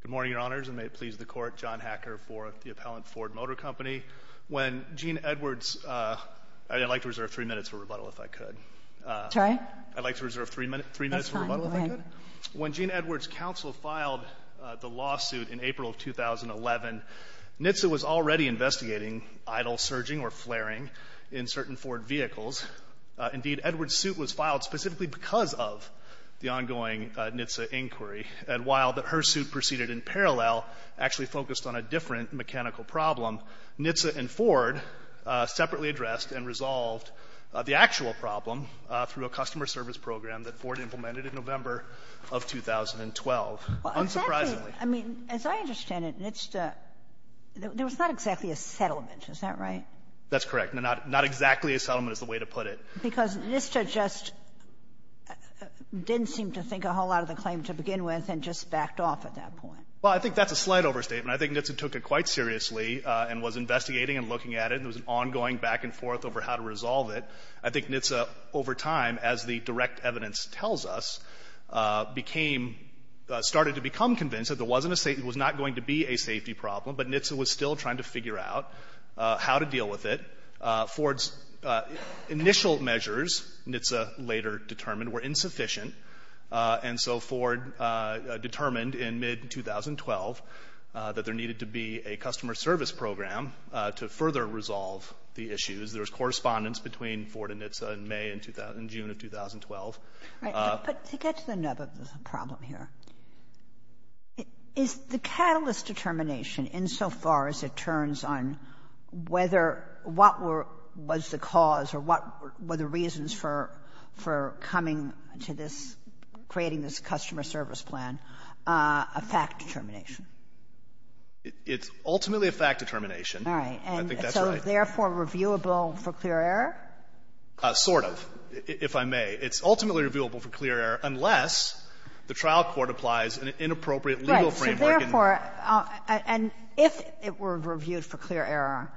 Good morning, Your Honors, and may it please the Court, John Hacker for the appellant, Ford Motor Company. When Gene Edwards, I'd like to reserve three minutes for rebuttal if I could. Sorry? I'd like to reserve three minutes for rebuttal if I could. That's fine. Go ahead. When Gene Edwards' counsel filed the lawsuit in April of 2011, NHTSA was already investigating idle surging or flaring in certain Ford vehicles. Indeed, Edwards' suit was filed specifically because of the ongoing NHTSA inquiry. And while her suit proceeded in parallel, actually focused on a different mechanical problem, NHTSA and Ford separately addressed and resolved the actual problem through a customer service program that Ford implemented in November of 2012, unsurprisingly. I mean, as I understand it, NHTSA, there was not exactly a settlement. Is that right? That's correct. Not exactly a settlement is the way to put it. Because NHTSA just didn't seem to think a whole lot of the claim to begin with and just backed off at that point. Well, I think that's a slight overstatement. I think NHTSA took it quite seriously and was investigating and looking at it. There was an ongoing back and forth over how to resolve it. I think NHTSA, over time, as the direct evidence tells us, became — started to become convinced that there wasn't a — it was not going to be a safety problem, but NHTSA was still trying to figure out how to deal with it. Ford's initial measures, NHTSA later determined, were insufficient. And so Ford determined in mid-2012 that there needed to be a customer service program to further resolve the issues. There was correspondence between Ford and NHTSA in May and June of 2012. But to get to the nub of the problem here, is the catalyst determination insofar as it turns on whether what were — was the cause or what were the reasons for coming to this — creating this customer service plan a fact determination? It's ultimately a fact determination. All right. I think that's right. And so therefore reviewable for clear error? Sort of, if I may. It's ultimately reviewable for clear error unless the trial court applies an inappropriate legal framework. Right. So therefore — and if it were reviewed for clear error,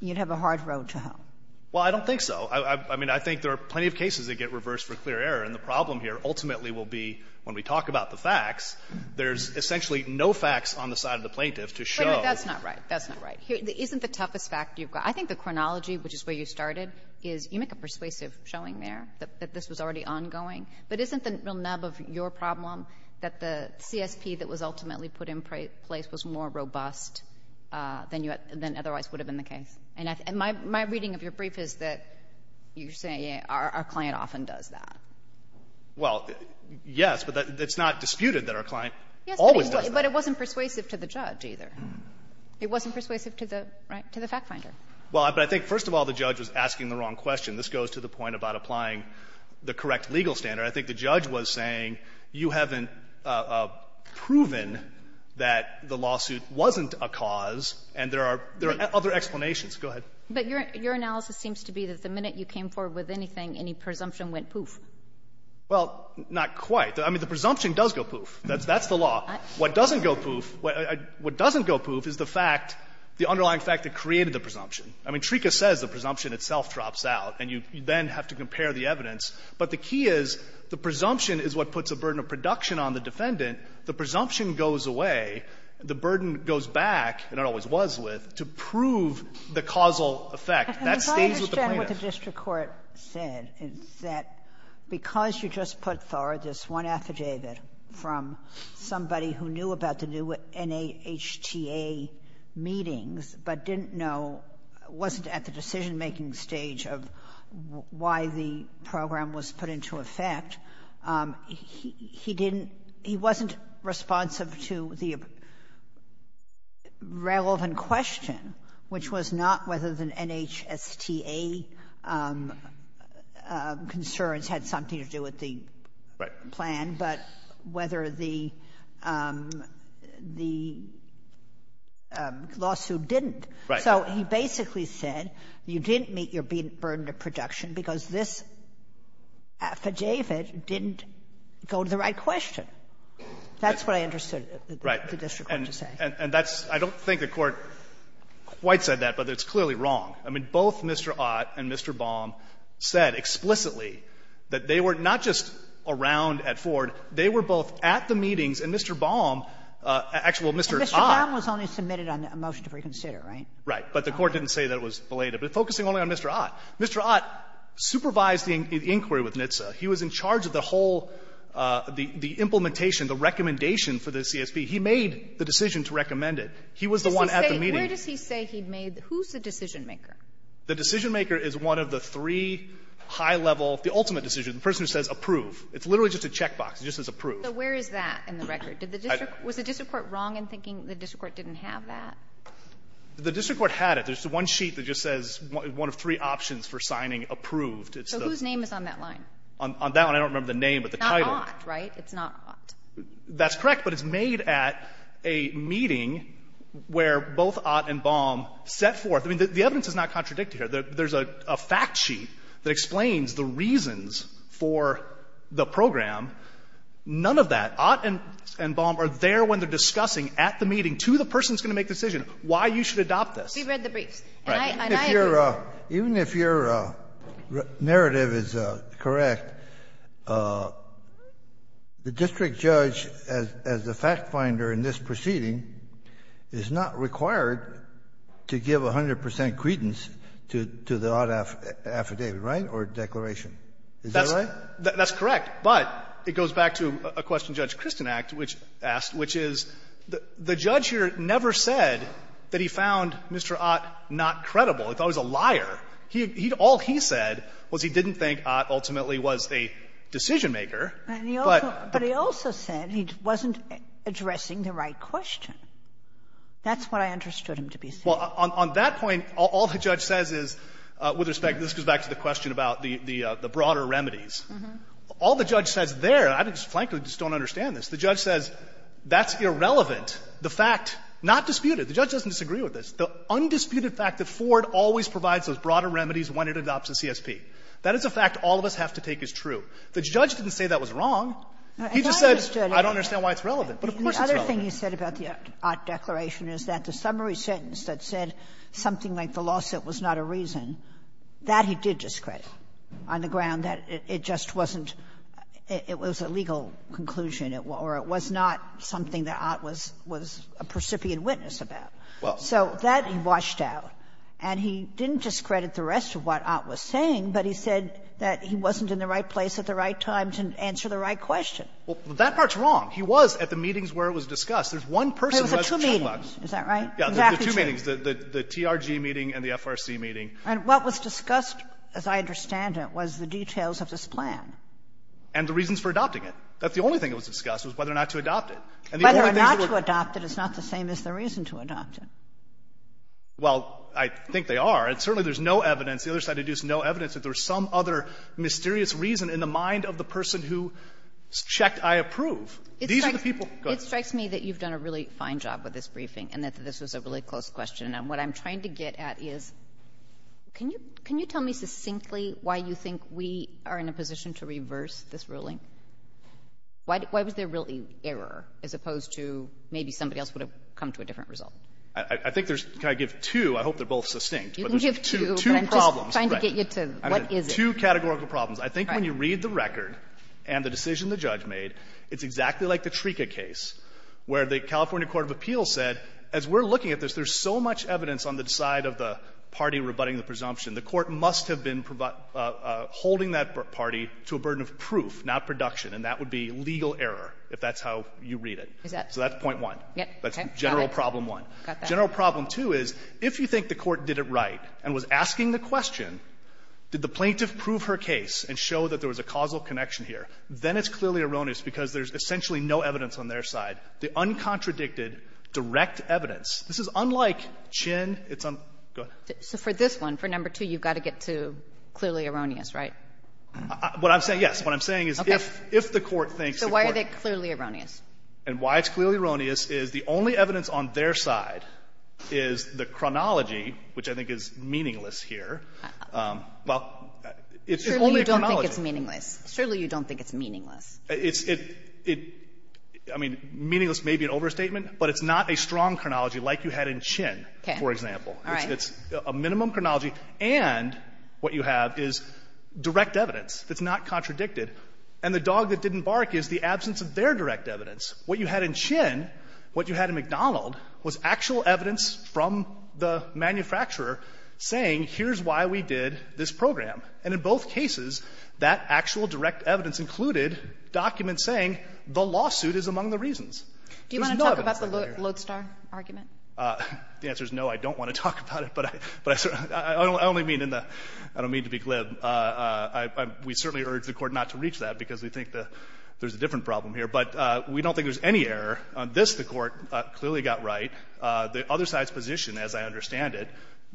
you'd have a hard road to home. Well, I don't think so. I mean, I think there are plenty of cases that get reversed for clear error. And the problem here ultimately will be, when we talk about the facts, there's essentially no facts on the side of the plaintiff to show — Wait a minute. That's not right. That's not right. Isn't the toughest fact you've got — I think the chronology, which is where you But isn't the real nub of your problem that the CSP that was ultimately put in place was more robust than otherwise would have been the case? And my reading of your brief is that you're saying our client often does that. Well, yes, but it's not disputed that our client always does that. Yes, but it wasn't persuasive to the judge either. It wasn't persuasive to the fact finder. Well, but I think, first of all, the judge was asking the wrong question. This goes to the point about applying the correct legal standard. I think the judge was saying you haven't proven that the lawsuit wasn't a cause, and there are other explanations. Go ahead. But your analysis seems to be that the minute you came forward with anything, any presumption went poof. Well, not quite. I mean, the presumption does go poof. That's the law. What doesn't go poof, what doesn't go poof is the fact, the underlying fact that created the presumption. I mean, TRICA says the presumption itself drops out, and you then have to compare the evidence. But the key is the presumption is what puts a burden of production on the defendant. The presumption goes away. The burden goes back, and it always was with, to prove the causal effect. That stays with the plaintiff. And if I understand what the district court said, it's that because you just put, from somebody who knew about the new NHTA meetings, but didn't know, wasn't at the decision-making stage of why the program was put into effect, he didn't he wasn't responsive to the relevant question, which was not whether the NHSTA concerns were part of the plan, but whether the lawsuit didn't. Right. So he basically said you didn't meet your burden of production because this affidavit didn't go to the right question. That's what I understood the district court to say. Right. And that's — I don't think the Court quite said that, but it's clearly wrong. I mean, both Mr. Ott and Mr. Baum said explicitly that they were not just around at Ford. They were both at the meetings, and Mr. Baum — actually, well, Mr. Ott — And Mr. Baum was only submitted on a motion to reconsider, right? Right. But the Court didn't say that it was belated. But focusing only on Mr. Ott, Mr. Ott supervised the inquiry with NHTSA. He was in charge of the whole — the implementation, the recommendation for the CSB. He made the decision to recommend it. He was the one at the meeting. Where does he say he made the — who's the decision-maker? The decision-maker is one of the three high-level — the ultimate decision, the person who says approve. It's literally just a checkbox. It just says approve. So where is that in the record? Did the district — was the district court wrong in thinking the district court didn't have that? The district court had it. There's one sheet that just says one of three options for signing approved. So whose name is on that line? On that one, I don't remember the name, but the title. It's not Ott, right? It's not Ott. That's correct, but it's made at a meeting where both Ott and Baum set forth. I mean, the evidence is not contradicted here. There's a fact sheet that explains the reasons for the program. None of that. Ott and Baum are there when they're discussing at the meeting to the person who's going to make the decision why you should adopt this. We read the briefs. And I agree. Kennedy, even if your narrative is correct, the district judge, as the fact finder in this proceeding, is not required to give 100 percent credence to the Ott affidavit, right, or declaration? Is that right? That's correct. But it goes back to a question Judge Kristin asked, which is the judge here never said that he found Mr. Ott not credible. He thought he was a liar. He had all he said was he didn't think Ott ultimately was a decision-maker. But he also said he wasn't addressing the right question. That's what I understood him to be saying. Well, on that point, all the judge says is, with respect, this goes back to the question about the broader remedies. All the judge says there, and I just, frankly, just don't understand this, the judge says that's irrelevant. The fact, not disputed, the judge doesn't disagree with this. The undisputed fact that Ford always provides those broader remedies when it adopts a CSP, that is a fact all of us have to take as true. The judge didn't say that was wrong. He just said I don't understand why it's relevant. But of course it's relevant. The other thing he said about the Ott declaration is that the summary sentence that said something like the lawsuit was not a reason, that he did discredit on the ground that it just wasn't – it was a legal conclusion or it was not something that Ott was – was a precipient witness about. Well – So that he washed out. And he didn't discredit the rest of what Ott was saying, but he said that he wasn't in the right place at the right time to answer the right question. Well, that part's wrong. He was at the meetings where it was discussed. There's one person who has a checkbox. There were two meetings, is that right? Yeah, there were two meetings, the TRG meeting and the FRC meeting. And what was discussed, as I understand it, was the details of this plan. And the reasons for adopting it. That's the only thing that was discussed, was whether or not to adopt it. And the only things that were – Whether or not to adopt it is not the same as the reason to adopt it. Well, I think they are. And certainly, there's no evidence – the other side deduced no evidence that there was some other mysterious reason in the mind of the person who checked I approve. These are the people – go ahead. It strikes me that you've done a really fine job with this briefing and that this was a really close question. And what I'm trying to get at is, can you – can you tell me succinctly why you think we are in a position to reverse this ruling? Why was there really error as opposed to maybe somebody else would have come to a different result? I think there's – can I give two? I hope they're both succinct. You can give two, but I'm just trying to get you to – what is it? Two categorical problems. I think when you read the record and the decision the judge made, it's exactly like the TRICA case, where the California Court of Appeals said, as we're looking at this, there's so much evidence on the side of the party rebutting the presumption. The court must have been holding that party to a burden of proof, not production. And that would be legal error, if that's how you read it. Is that – So that's point one. Yeah. Okay. General problem one. Got that. General problem two is, if you think the court did it right and was asking the question, did the plaintiff prove her case and show that there was a causal connection here, then it's clearly erroneous because there's essentially no evidence on their side. The uncontradicted, direct evidence, this is unlike Chinn. It's – go ahead. So for this one, for number two, you've got to get to clearly erroneous, right? What I'm saying – yes. What I'm saying is, if the court thinks the court – So why are they clearly erroneous? And why it's clearly erroneous is the only evidence on their side is the chronology, which I think is meaningless here. Well, it's only a chronology. Surely you don't think it's meaningless. It's – I mean, meaningless may be an overstatement, but it's not a strong chronology like you had in Chinn, for example. It's a minimum chronology, and what you have is direct evidence that's not contradicted. And the dog that didn't bark is the absence of their direct evidence. What you had in Chinn, what you had in McDonald, was actual evidence from the manufacturer saying, here's why we did this program. And in both cases, that actual direct evidence included documents saying the lawsuit is among the reasons. There's no evidence on their side. Do you want to talk about the Lodestar argument? The answer is no, I don't want to talk about it, but I – I only mean in the – I don't mean to be glib. And I – we certainly urge the Court not to reach that because we think that there's a different problem here. But we don't think there's any error. On this, the Court clearly got right. The other side's position, as I understand it,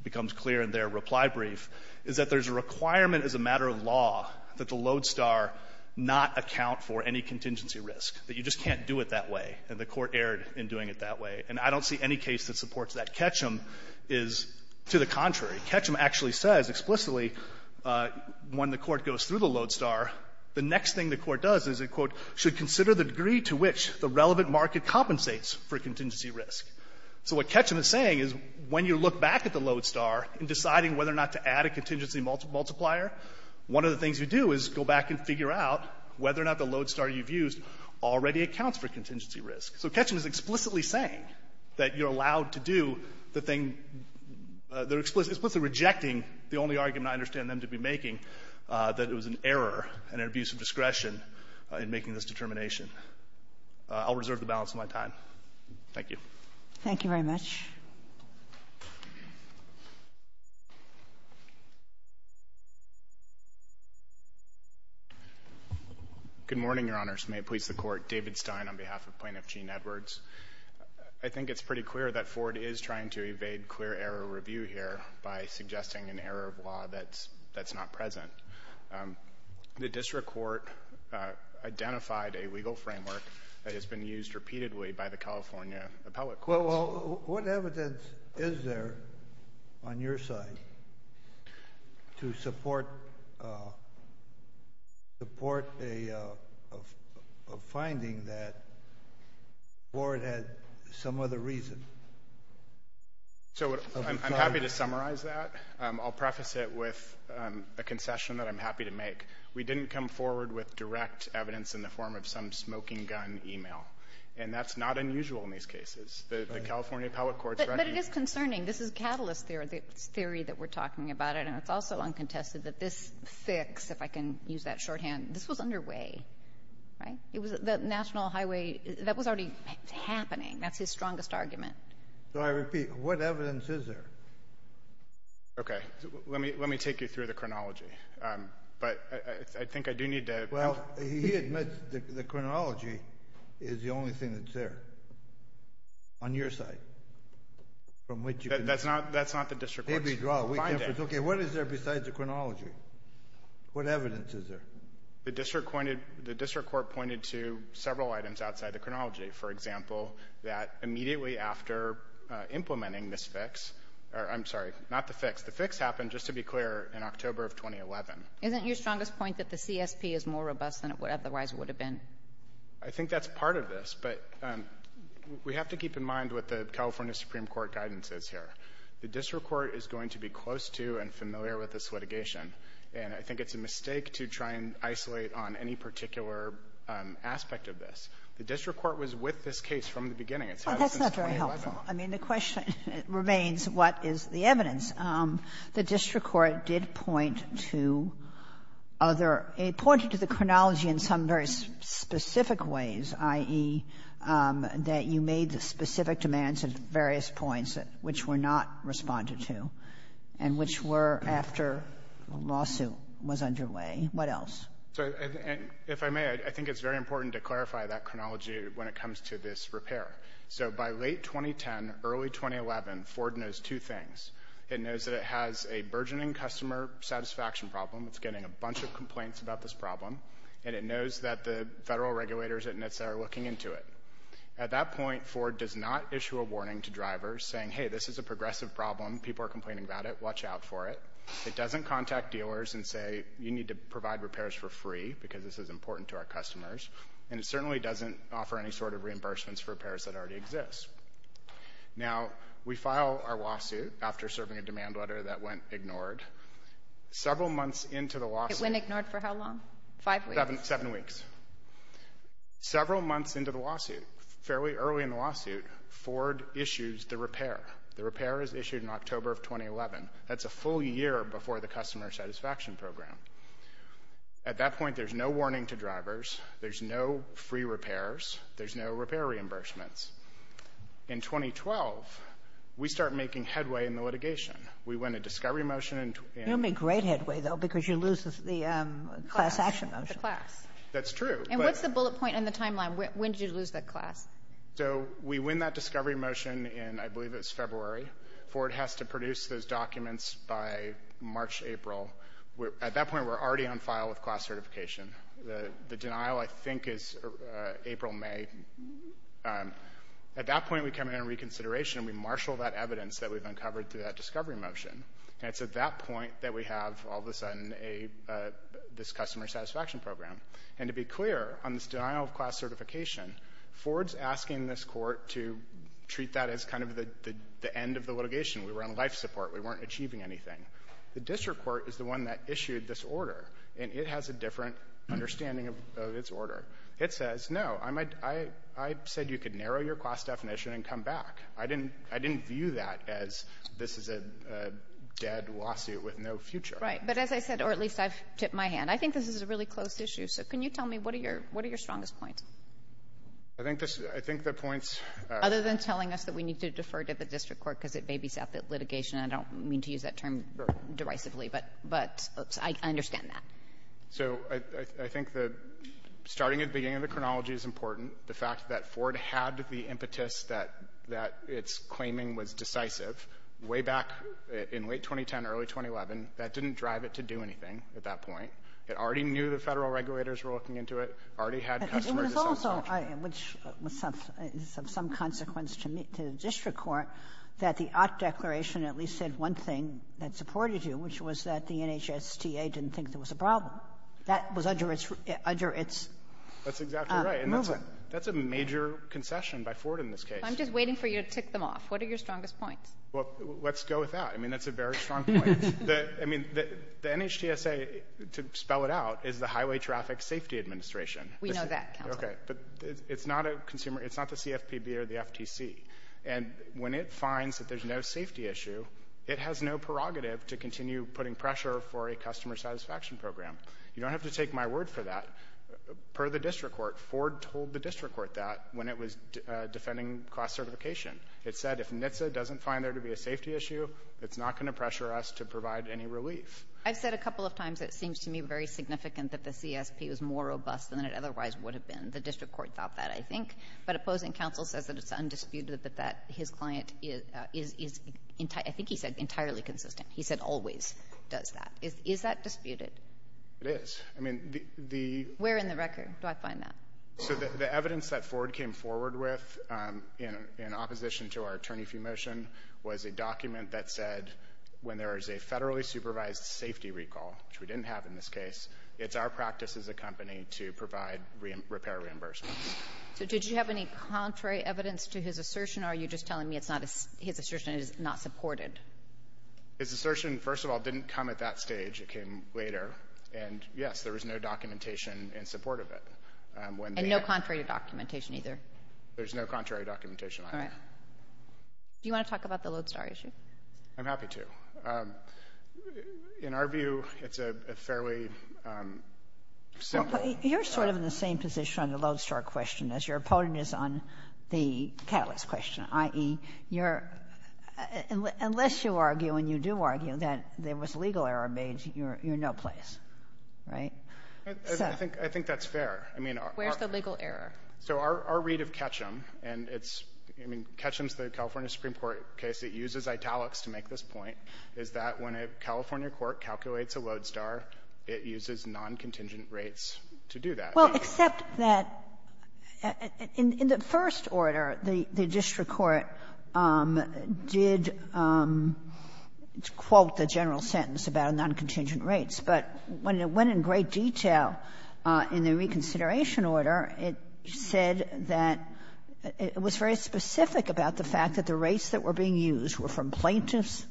becomes clear in their reply brief, is that there's a requirement as a matter of law that the Lodestar not account for any contingency risk, that you just can't do it that way, and the Court erred in doing it that way. And I don't see any case that supports that. Ketchum is to the contrary. Ketchum actually says explicitly when the Court goes through the Lodestar, the next thing the Court does is, and I quote, "...should consider the degree to which the relevant market compensates for contingency risk." So what Ketchum is saying is when you look back at the Lodestar in deciding whether or not to add a contingency multiplier, one of the things you do is go back and figure out whether or not the Lodestar you've used already accounts for contingency risk. So Ketchum is explicitly saying that you're allowed to do the thing – they're explicitly rejecting the only argument I understand them to be making, that it was an error and an abuse of discretion in making this determination. I'll reserve the balance of my time. Thank you. Thank you very much. Good morning, Your Honors. May it please the Court. David Stein on behalf of Plaintiff Gene Edwards. I think it's pretty clear that Ford is trying to evade clear error review here by suggesting an error of law that's not present. The district court identified a legal framework that has been used repeatedly by the California appellate court. Well, what evidence is there on your side to support a finding that Ford had some other reason? So I'm happy to summarize that. I'll preface it with a concession that I'm happy to make. We didn't come forward with direct evidence in the form of some smoking gun email. And that's not unusual in these cases. The California appellate court's ready. But it is concerning. This is catalyst theory, the theory that we're talking about, and it's also uncontested that this fix, if I can use that shorthand, this was underway, right? It was the National Highway – that was already happening. That's his strongest argument. So I repeat, what evidence is there? Okay. Let me take you through the chronology. But I think I do need to – Well, he admits the chronology is the only thing that's there on your side from which you can – That's not the district court's finding. Okay. What is there besides the chronology? What evidence is there? The district court pointed to several items outside the chronology. For example, that immediately after implementing this fix – or, I'm sorry, not the fix. The fix happened, just to be clear, in October of 2011. Isn't your strongest point that the CSP is more robust than it otherwise would have been? I think that's part of this. But we have to keep in mind what the California Supreme Court guidance is here. The district court is going to be close to and familiar with this litigation. And I think it's a mistake to try and isolate on any particular aspect of this. The district court was with this case from the beginning. It's had it since 2011. Well, that's not very helpful. I mean, the question remains, what is the evidence? The district court did point to other – it pointed to the chronology in some very specific ways, i.e., that you made the specific demands at various points which were not responded to and which were after the lawsuit was underway. What else? So if I may, I think it's very important to clarify that chronology when it comes to this repair. So by late 2010, early 2011, Ford knows two things. It knows that it has a burgeoning customer satisfaction problem. It's getting a bunch of complaints about this problem. And it knows that the federal regulators at NHTSA are looking into it. At that point, Ford does not issue a warning to drivers saying, hey, this is a progressive problem. People are complaining about it. Watch out for it. It doesn't contact dealers and say, you need to provide repairs for free because this is important to our customers. And it certainly doesn't offer any sort of reimbursements for repairs that already exist. Now, we file our lawsuit after serving a demand letter that went ignored. Several months into the lawsuit... It went ignored for how long? Five weeks? Seven weeks. Several months into the lawsuit, fairly early in the lawsuit, Ford issues the repair. The repair is issued in October of 2011. That's a full year before the customer satisfaction program. At that point, there's no warning to drivers. There's no free repairs. There's no repair reimbursements. In 2012, we start making headway in the litigation. We win a discovery motion in... You'll make great headway, though, because you lose the class action motion. The class. That's true. And what's the bullet point in the timeline? When did you lose the class? So we win that discovery motion in, I believe it's February. Ford has to produce those documents by March, April. At that point, we're already on file with class certification. The denial, I think, is April, May. At that point, we come in on reconsideration, and we marshal that evidence that we've uncovered through that discovery motion. And it's at that point that we have, all of a sudden, this customer satisfaction program. And to be clear, on this denial of class certification, Ford's asking this court to treat that as kind of the end of the litigation. We were on life support. We weren't achieving anything. The district court is the one that issued this order, and it has a different understanding of its order. It says, no, I said you could narrow your class definition and come back. I didn't view that as this is a dead lawsuit with no future. Right. But as I said, or at least I've tipped my hand, I think this is a really close issue. So can you tell me, what are your strongest points? I think the points... Other than telling us that we need to defer to the district court because it babysat the litigation. I don't mean to use that term derisively, but I understand that. So I think that starting at the beginning of the chronology is important. The fact that Ford had the impetus that its claiming was decisive way back in late 2010, early 2011, that didn't drive it to do anything at that point. It already knew the Federal regulators were looking into it, already had customer satisfaction. But also, which is of some consequence to the district court, that the Ott Declaration at least said one thing that supported you, which was that the NHTSA didn't think there was a problem. That was under its movement. That's exactly right. And that's a major concession by Ford in this case. I'm just waiting for you to tick them off. What are your strongest points? Well, let's go with that. I mean, that's a very strong point. I mean, the NHTSA, to spell it out, is the Highway Traffic Safety Administration. We know that, counsel. Okay. But it's not a consumer, it's not the CFPB or the FTC. And when it finds that there's no safety issue, it has no prerogative to continue putting pressure for a customer satisfaction program. You don't have to take my word for that. Per the district court, Ford told the district court that when it was defending class certification. It said if NHTSA doesn't find there to be a safety issue, it's not going to pressure us to provide any relief. I've said a couple of times it seems to me very significant that the CSP was more robust than it otherwise would have been. The district court thought that, I think. But opposing counsel says that it's undisputed that his client is, I think he said, entirely consistent. He said always does that. Is that disputed? It is. I mean, the... Where in the record do I find that? So the evidence that Ford came forward with in opposition to our attorney fee motion was a document that said when there is a federally supervised safety recall, which we didn't have in this case, it's our practice as a company to provide repair reimbursements. So did you have any contrary evidence to his assertion or are you just telling me it's not... His assertion is not supported? His assertion, first of all, didn't come at that stage. It came later. And, yes, there was no documentation in support of it. And no contrary documentation either? There's no contrary documentation either. All right. Do you want to talk about the Lodestar issue? I'm happy to. In our view, it's a fairly simple... You're sort of in the same position on the Lodestar question as your opponent is on the Catalyst question, i.e., you're unless you argue and you do argue that there was legal error made, you're in no place, right? I think that's fair. I mean... Where's the legal error? So our read of Ketchum, and it's, I mean, Ketchum's the California Supreme Court case that uses italics to make this point, is that when a California court calculates a Lodestar, it uses non-contingent rates to do that. Well, except that in the first order, the district court did quote the general sentence about non-contingent rates, but when it went in great detail in the reconsideration order, it said that it was very specific about the fact that the rates that were being used were from plaintiff's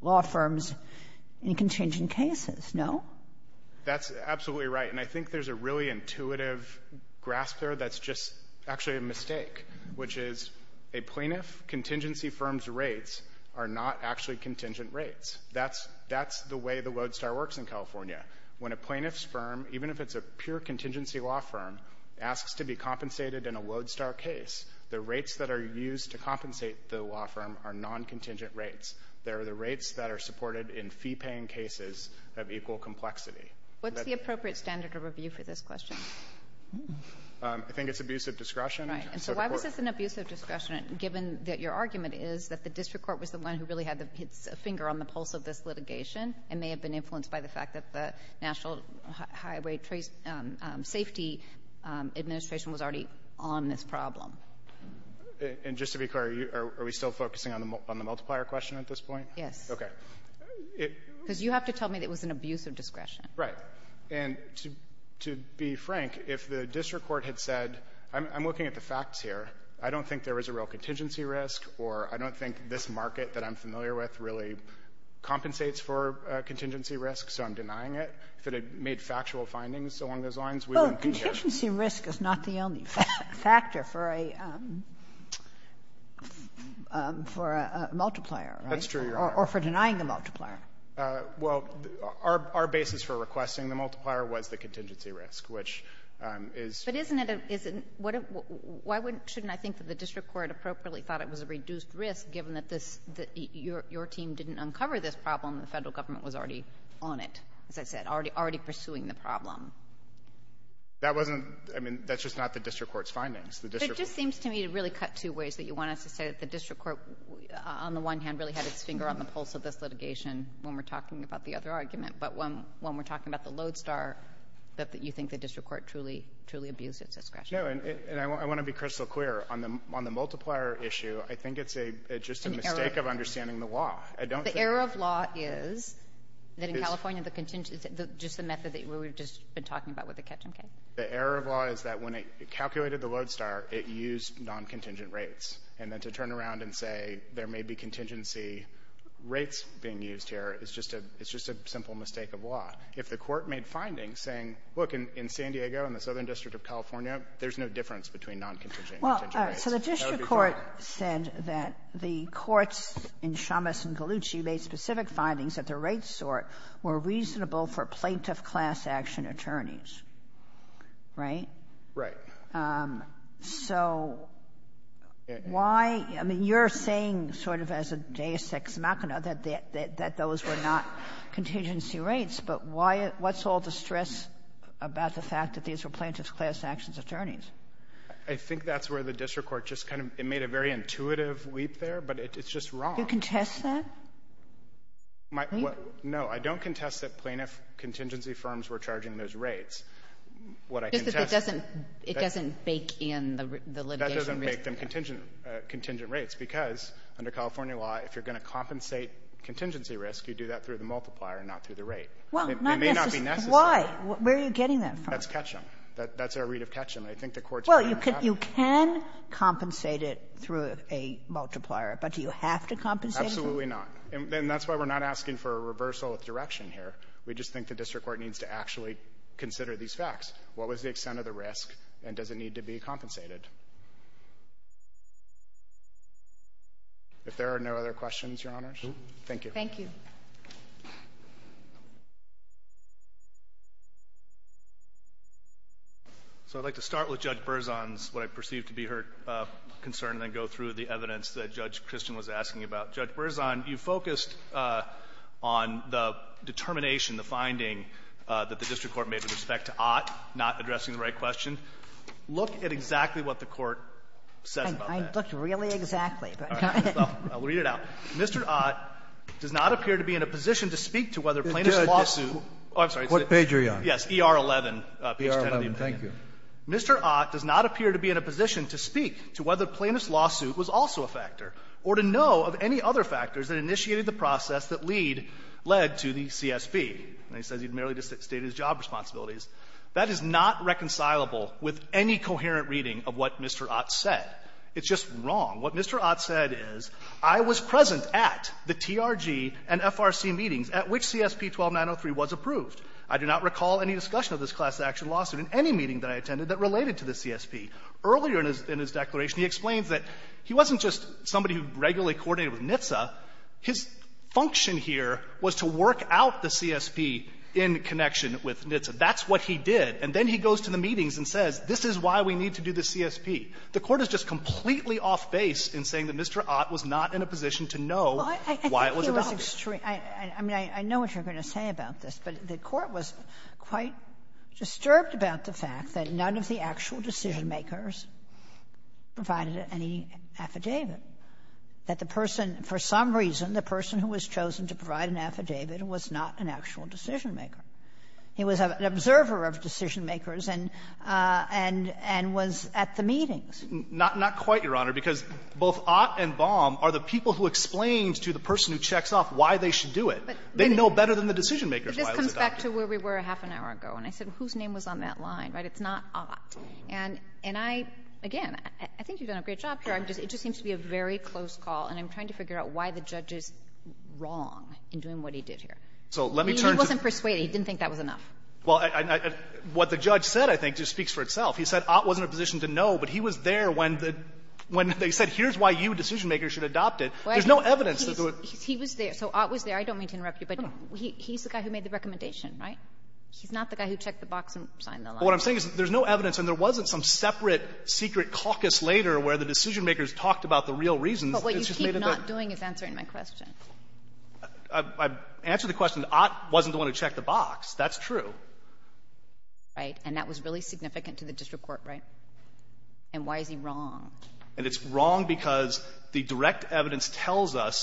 law firms in contingent cases, no? That's absolutely right. And I think there's a really intuitive grasp there that's just actually a mistake, which is a plaintiff contingency firm's rates are not actually contingent rates. That's the way the Lodestar works in California. When a plaintiff's firm, even if it's a pure contingency law firm, asks to be compensated in a Lodestar case, the rates that are used to compensate the law firm are non-contingent rates. They are the rates that are supported in fee-paying cases of equal complexity. What's the appropriate standard of review for this question? I think it's abusive discretion. Right. And so why was this an abusive discretion, given that your argument is that the district court was the one who really had its finger on the pulse of this litigation and may have been influenced by the fact that the National Highway Safety Administration was already on this problem? And just to be clear, are we still focusing on the multiplier question at this point? Yes. Okay. Because you have to tell me that it was an abusive discretion. Right. And to be frank, if the district court had said, I'm looking at the facts here. I don't think there is a real contingency risk, or I don't think this market that I'm familiar with really compensates for contingency risk, so I'm denying it. If it had made factual findings along those lines, we wouldn't be here. But contingency risk is not the only factor for a multiplier, right? That's true, Your Honor. Or for denying a multiplier. Well, our basis for requesting the multiplier was the contingency risk, which is — But isn't it a — why shouldn't I think that the district court appropriately thought it was a reduced risk, given that this — your team didn't uncover this problem, the Federal government was already on it, as I said, already pursuing the problem? That wasn't — I mean, that's just not the district court's findings. The district court — But it just seems to me to really cut two ways, that you want us to say that the district court, on the one hand, really had its finger on the pulse of this litigation when we're talking about the other argument, but when we're talking about the Lodestar, that you think the district court truly — truly abused its discretion. No. And I want to be crystal clear. On the multiplier issue, I think it's a — it's just a mistake of understanding the law. I don't think — The error of law is that in California, the contingency — just the method that we've just been talking about with the Ketam K? The error of law is that when it calculated the Lodestar, it used non-contingent rates. And then to turn around and say there may be contingency rates being used here is just a — it's just a simple mistake of law. If the court made findings saying, look, in San Diego, in the Southern District of California, there's no difference between non-contingent and contingent rates, that would be fine. Well, so the district court said that the courts in Chambas and Gallucci made specific findings that the rates sort were reasonable for plaintiff class action attorneys. Right? Right. So why — I mean, you're saying, sort of as a deus ex machina, that those were not contingency rates, but why — what's all the stress about the fact that these were plaintiff class actions attorneys? I think that's where the district court just kind of — it made a very intuitive leap there, but it's just wrong. You contest that? My — no. I don't contest that plaintiff contingency firms were charging those rates. What I contest — Just that it doesn't — it doesn't bake in the litigation risk. That doesn't bake in contingent rates, because under California law, if you're going to compensate contingency risk, you do that through the multiplier and not through the rate. It may not be necessary. Why? Where are you getting that from? That's Ketchum. That's our read of Ketchum. I think the courts — Well, you can — you can compensate it through a multiplier. But do you have to compensate it? Absolutely not. And that's why we're not asking for a reversal of direction here. We just think the district court needs to actually consider these facts. What was the extent of the risk, and does it need to be compensated? If there are no other questions, Your Honors, thank you. Thank you. So I'd like to start with Judge Berzon's — what I perceive to be her concern and then go through the evidence that Judge Christian was asking about. Judge Berzon, you focused on the determination, the finding, that the district court made with respect to Ott not addressing the right question. Look at exactly what the Court says about that. I looked really exactly. All right. Well, I'll read it out. Mr. Ott does not appear to be in a position to speak to whether plaintiff's lawsuit — What page are you on? Yes. ER11, page 10 of the amendment. ER11. Thank you. Mr. Ott does not appear to be in a position to speak to whether plaintiff's lawsuit was also a factor or to know of any other factors that initiated the process that lead — led to the CSB. And he says he merely stated his job responsibilities. That is not reconcilable with any coherent reading of what Mr. Ott said. It's just wrong. What Mr. Ott said is, I was present at the TRG and FRC meetings at which CSP-12903 was approved. I do not recall any discussion of this class-action lawsuit in any meeting that I attended that related to the CSP. Earlier in his declaration, he explains that he wasn't just somebody who regularly coordinated with NHTSA. His function here was to work out the CSP in connection with NHTSA. That's what he did. And then he goes to the meetings and says, this is why we need to do the CSP. The Court is just completely off-base in saying that Mr. Ott was not in a position to know why it was adopted. Well, I think he was — I mean, I know what you're going to say about this. But the Court was quite disturbed about the fact that none of the actual decision-makers provided any affidavit, that the person — for some reason, the person who was chosen to provide an affidavit was not an actual decision-maker. He was an observer of decision-makers and — and was at the meetings. Not — not quite, Your Honor, because both Ott and Baum are the people who explained to the person who checks off why they should do it. They know better than the decision-makers, by the way. He comes back to where we were a half an hour ago, and I said, whose name was on that line, right? It's not Ott. And — and I — again, I think you've done a great job here. I'm just — it just seems to be a very close call, and I'm trying to figure out why the judge is wrong in doing what he did here. So let me turn to — He wasn't persuaded. He didn't think that was enough. Well, I — what the judge said, I think, just speaks for itself. He said Ott wasn't in a position to know, but he was there when the — when they said, here's why you decision-makers should adopt it. There's no evidence that it would — He was there. So Ott was there. I don't mean to interrupt you, but he's the guy who made the recommendation right? He's not the guy who checked the box and signed the law. What I'm saying is, there's no evidence, and there wasn't some separate secret caucus later where the decision-makers talked about the real reasons. But what you keep not doing is answering my question. I've — I've answered the question. Ott wasn't the one who checked the box. That's true. Right. And that was really significant to the district court, right? And why is he wrong? And it's wrong because the direct evidence tells us,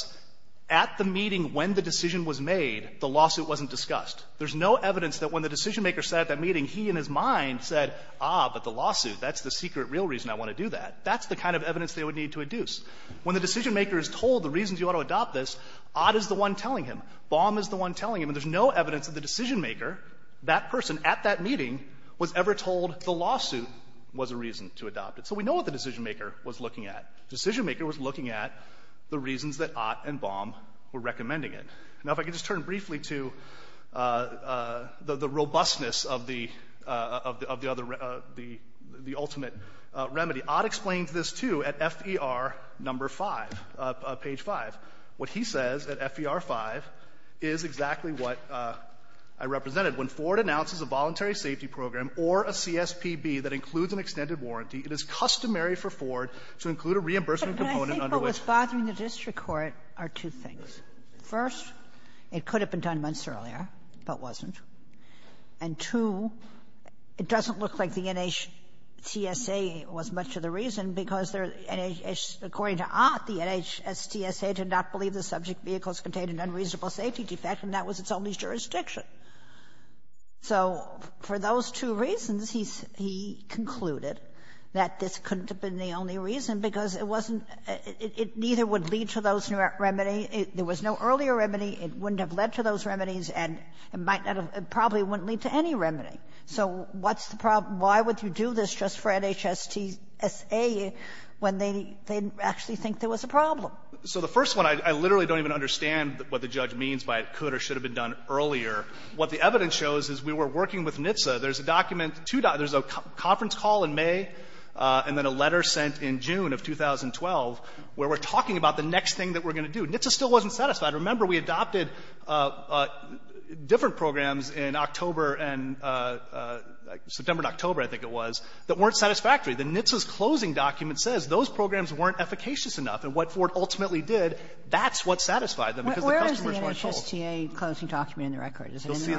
at the meeting when the decision was made, the lawsuit wasn't discussed. There's no evidence that when the decision-maker sat at that meeting, he in his mind said, ah, but the lawsuit, that's the secret real reason I want to do that. That's the kind of evidence they would need to induce. When the decision-maker is told the reasons you ought to adopt this, Ott is the one telling him. Baum is the one telling him. And there's no evidence that the decision-maker, that person at that meeting, was ever told the lawsuit was a reason to adopt it. So we know what the decision-maker was looking at. Decision-maker was looking at the reasons that Ott and Baum were recommending it. Now, if I could just turn briefly to the robustness of the other, of the ultimate remedy. Ott explains this, too, at FER number 5, page 5. What he says at FER 5 is exactly what I represented. When Ford announces a voluntary safety program or a CSPB that includes an extended warranty, it is customary for Ford to include a reimbursement component under which But I think what was bothering the district court are two things. First, it could have been done months earlier, but wasn't. And, two, it doesn't look like the NHTSA was much of the reason, because there are, according to Ott, the NHTSA did not believe the subject vehicle's contained an unreasonable safety defect, and that was its only jurisdiction. So for those two reasons, he concluded that this couldn't have been the only reason, because it wasn't — it neither would lead to those remedies. There was no earlier remedy. It wouldn't have led to those remedies, and it might not have — it probably wouldn't lead to any remedy. So what's the problem? Why would you do this just for NHTSA when they didn't actually think there was a problem? So the first one, I literally don't even understand what the judge means by it could or should have been done earlier. What the evidence shows is we were working with NHTSA. There's a document to — there's a conference call in May, and then a letter sent in June of 2012 where we're talking about the next thing that we're going to do. NHTSA still wasn't satisfied. Remember, we adopted different programs in October and — September and October, I think it was, that weren't satisfactory. The NHTSA's closing document says those programs weren't efficacious enough. And what Ford ultimately did, that's what satisfied them, because the customers weren't told. Sotomayor, where is the NHTSA closing document in the record? Is it in the record?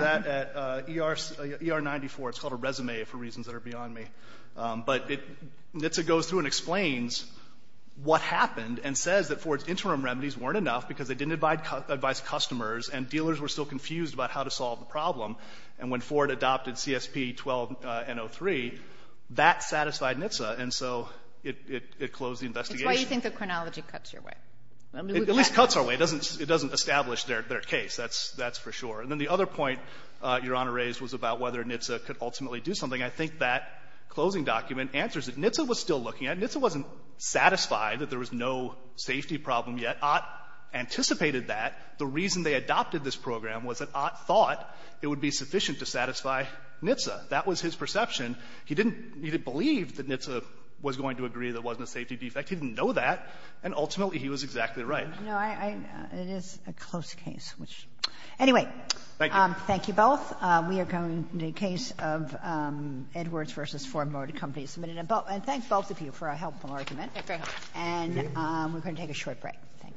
You'll see that at ER — ER 94. It's called a resume for reasons that are beyond me. But it — NHTSA goes through and explains what happened and says that Ford's interim remedies weren't enough because they didn't advise customers, and dealers were still confused about how to solve the problem. And when Ford adopted CSP-12-N03, that satisfied NHTSA, and so it — it closed the investigation. It's why you think the chronology cuts your way. It at least cuts our way. It doesn't — it doesn't establish their — their case. That's — that's for sure. And then the other point Your Honor raised was about whether NHTSA could ultimately do something. I think that closing document answers it. NHTSA was still looking at it. NHTSA wasn't satisfied that there was no safety problem yet. Ott anticipated that. The reason they adopted this program was that Ott thought it would be sufficient to satisfy NHTSA. That was his perception. He didn't believe that NHTSA was going to agree there wasn't a safety defect. He didn't know that. And ultimately, he was exactly right. No, I — it is a close case, which — anyway. Thank you. Thank you both. We are going to the case of Edwards v. Ford Motor Company. And thanks both of you for a helpful argument. Thank you very much. And we're going to take a short break. Thank you.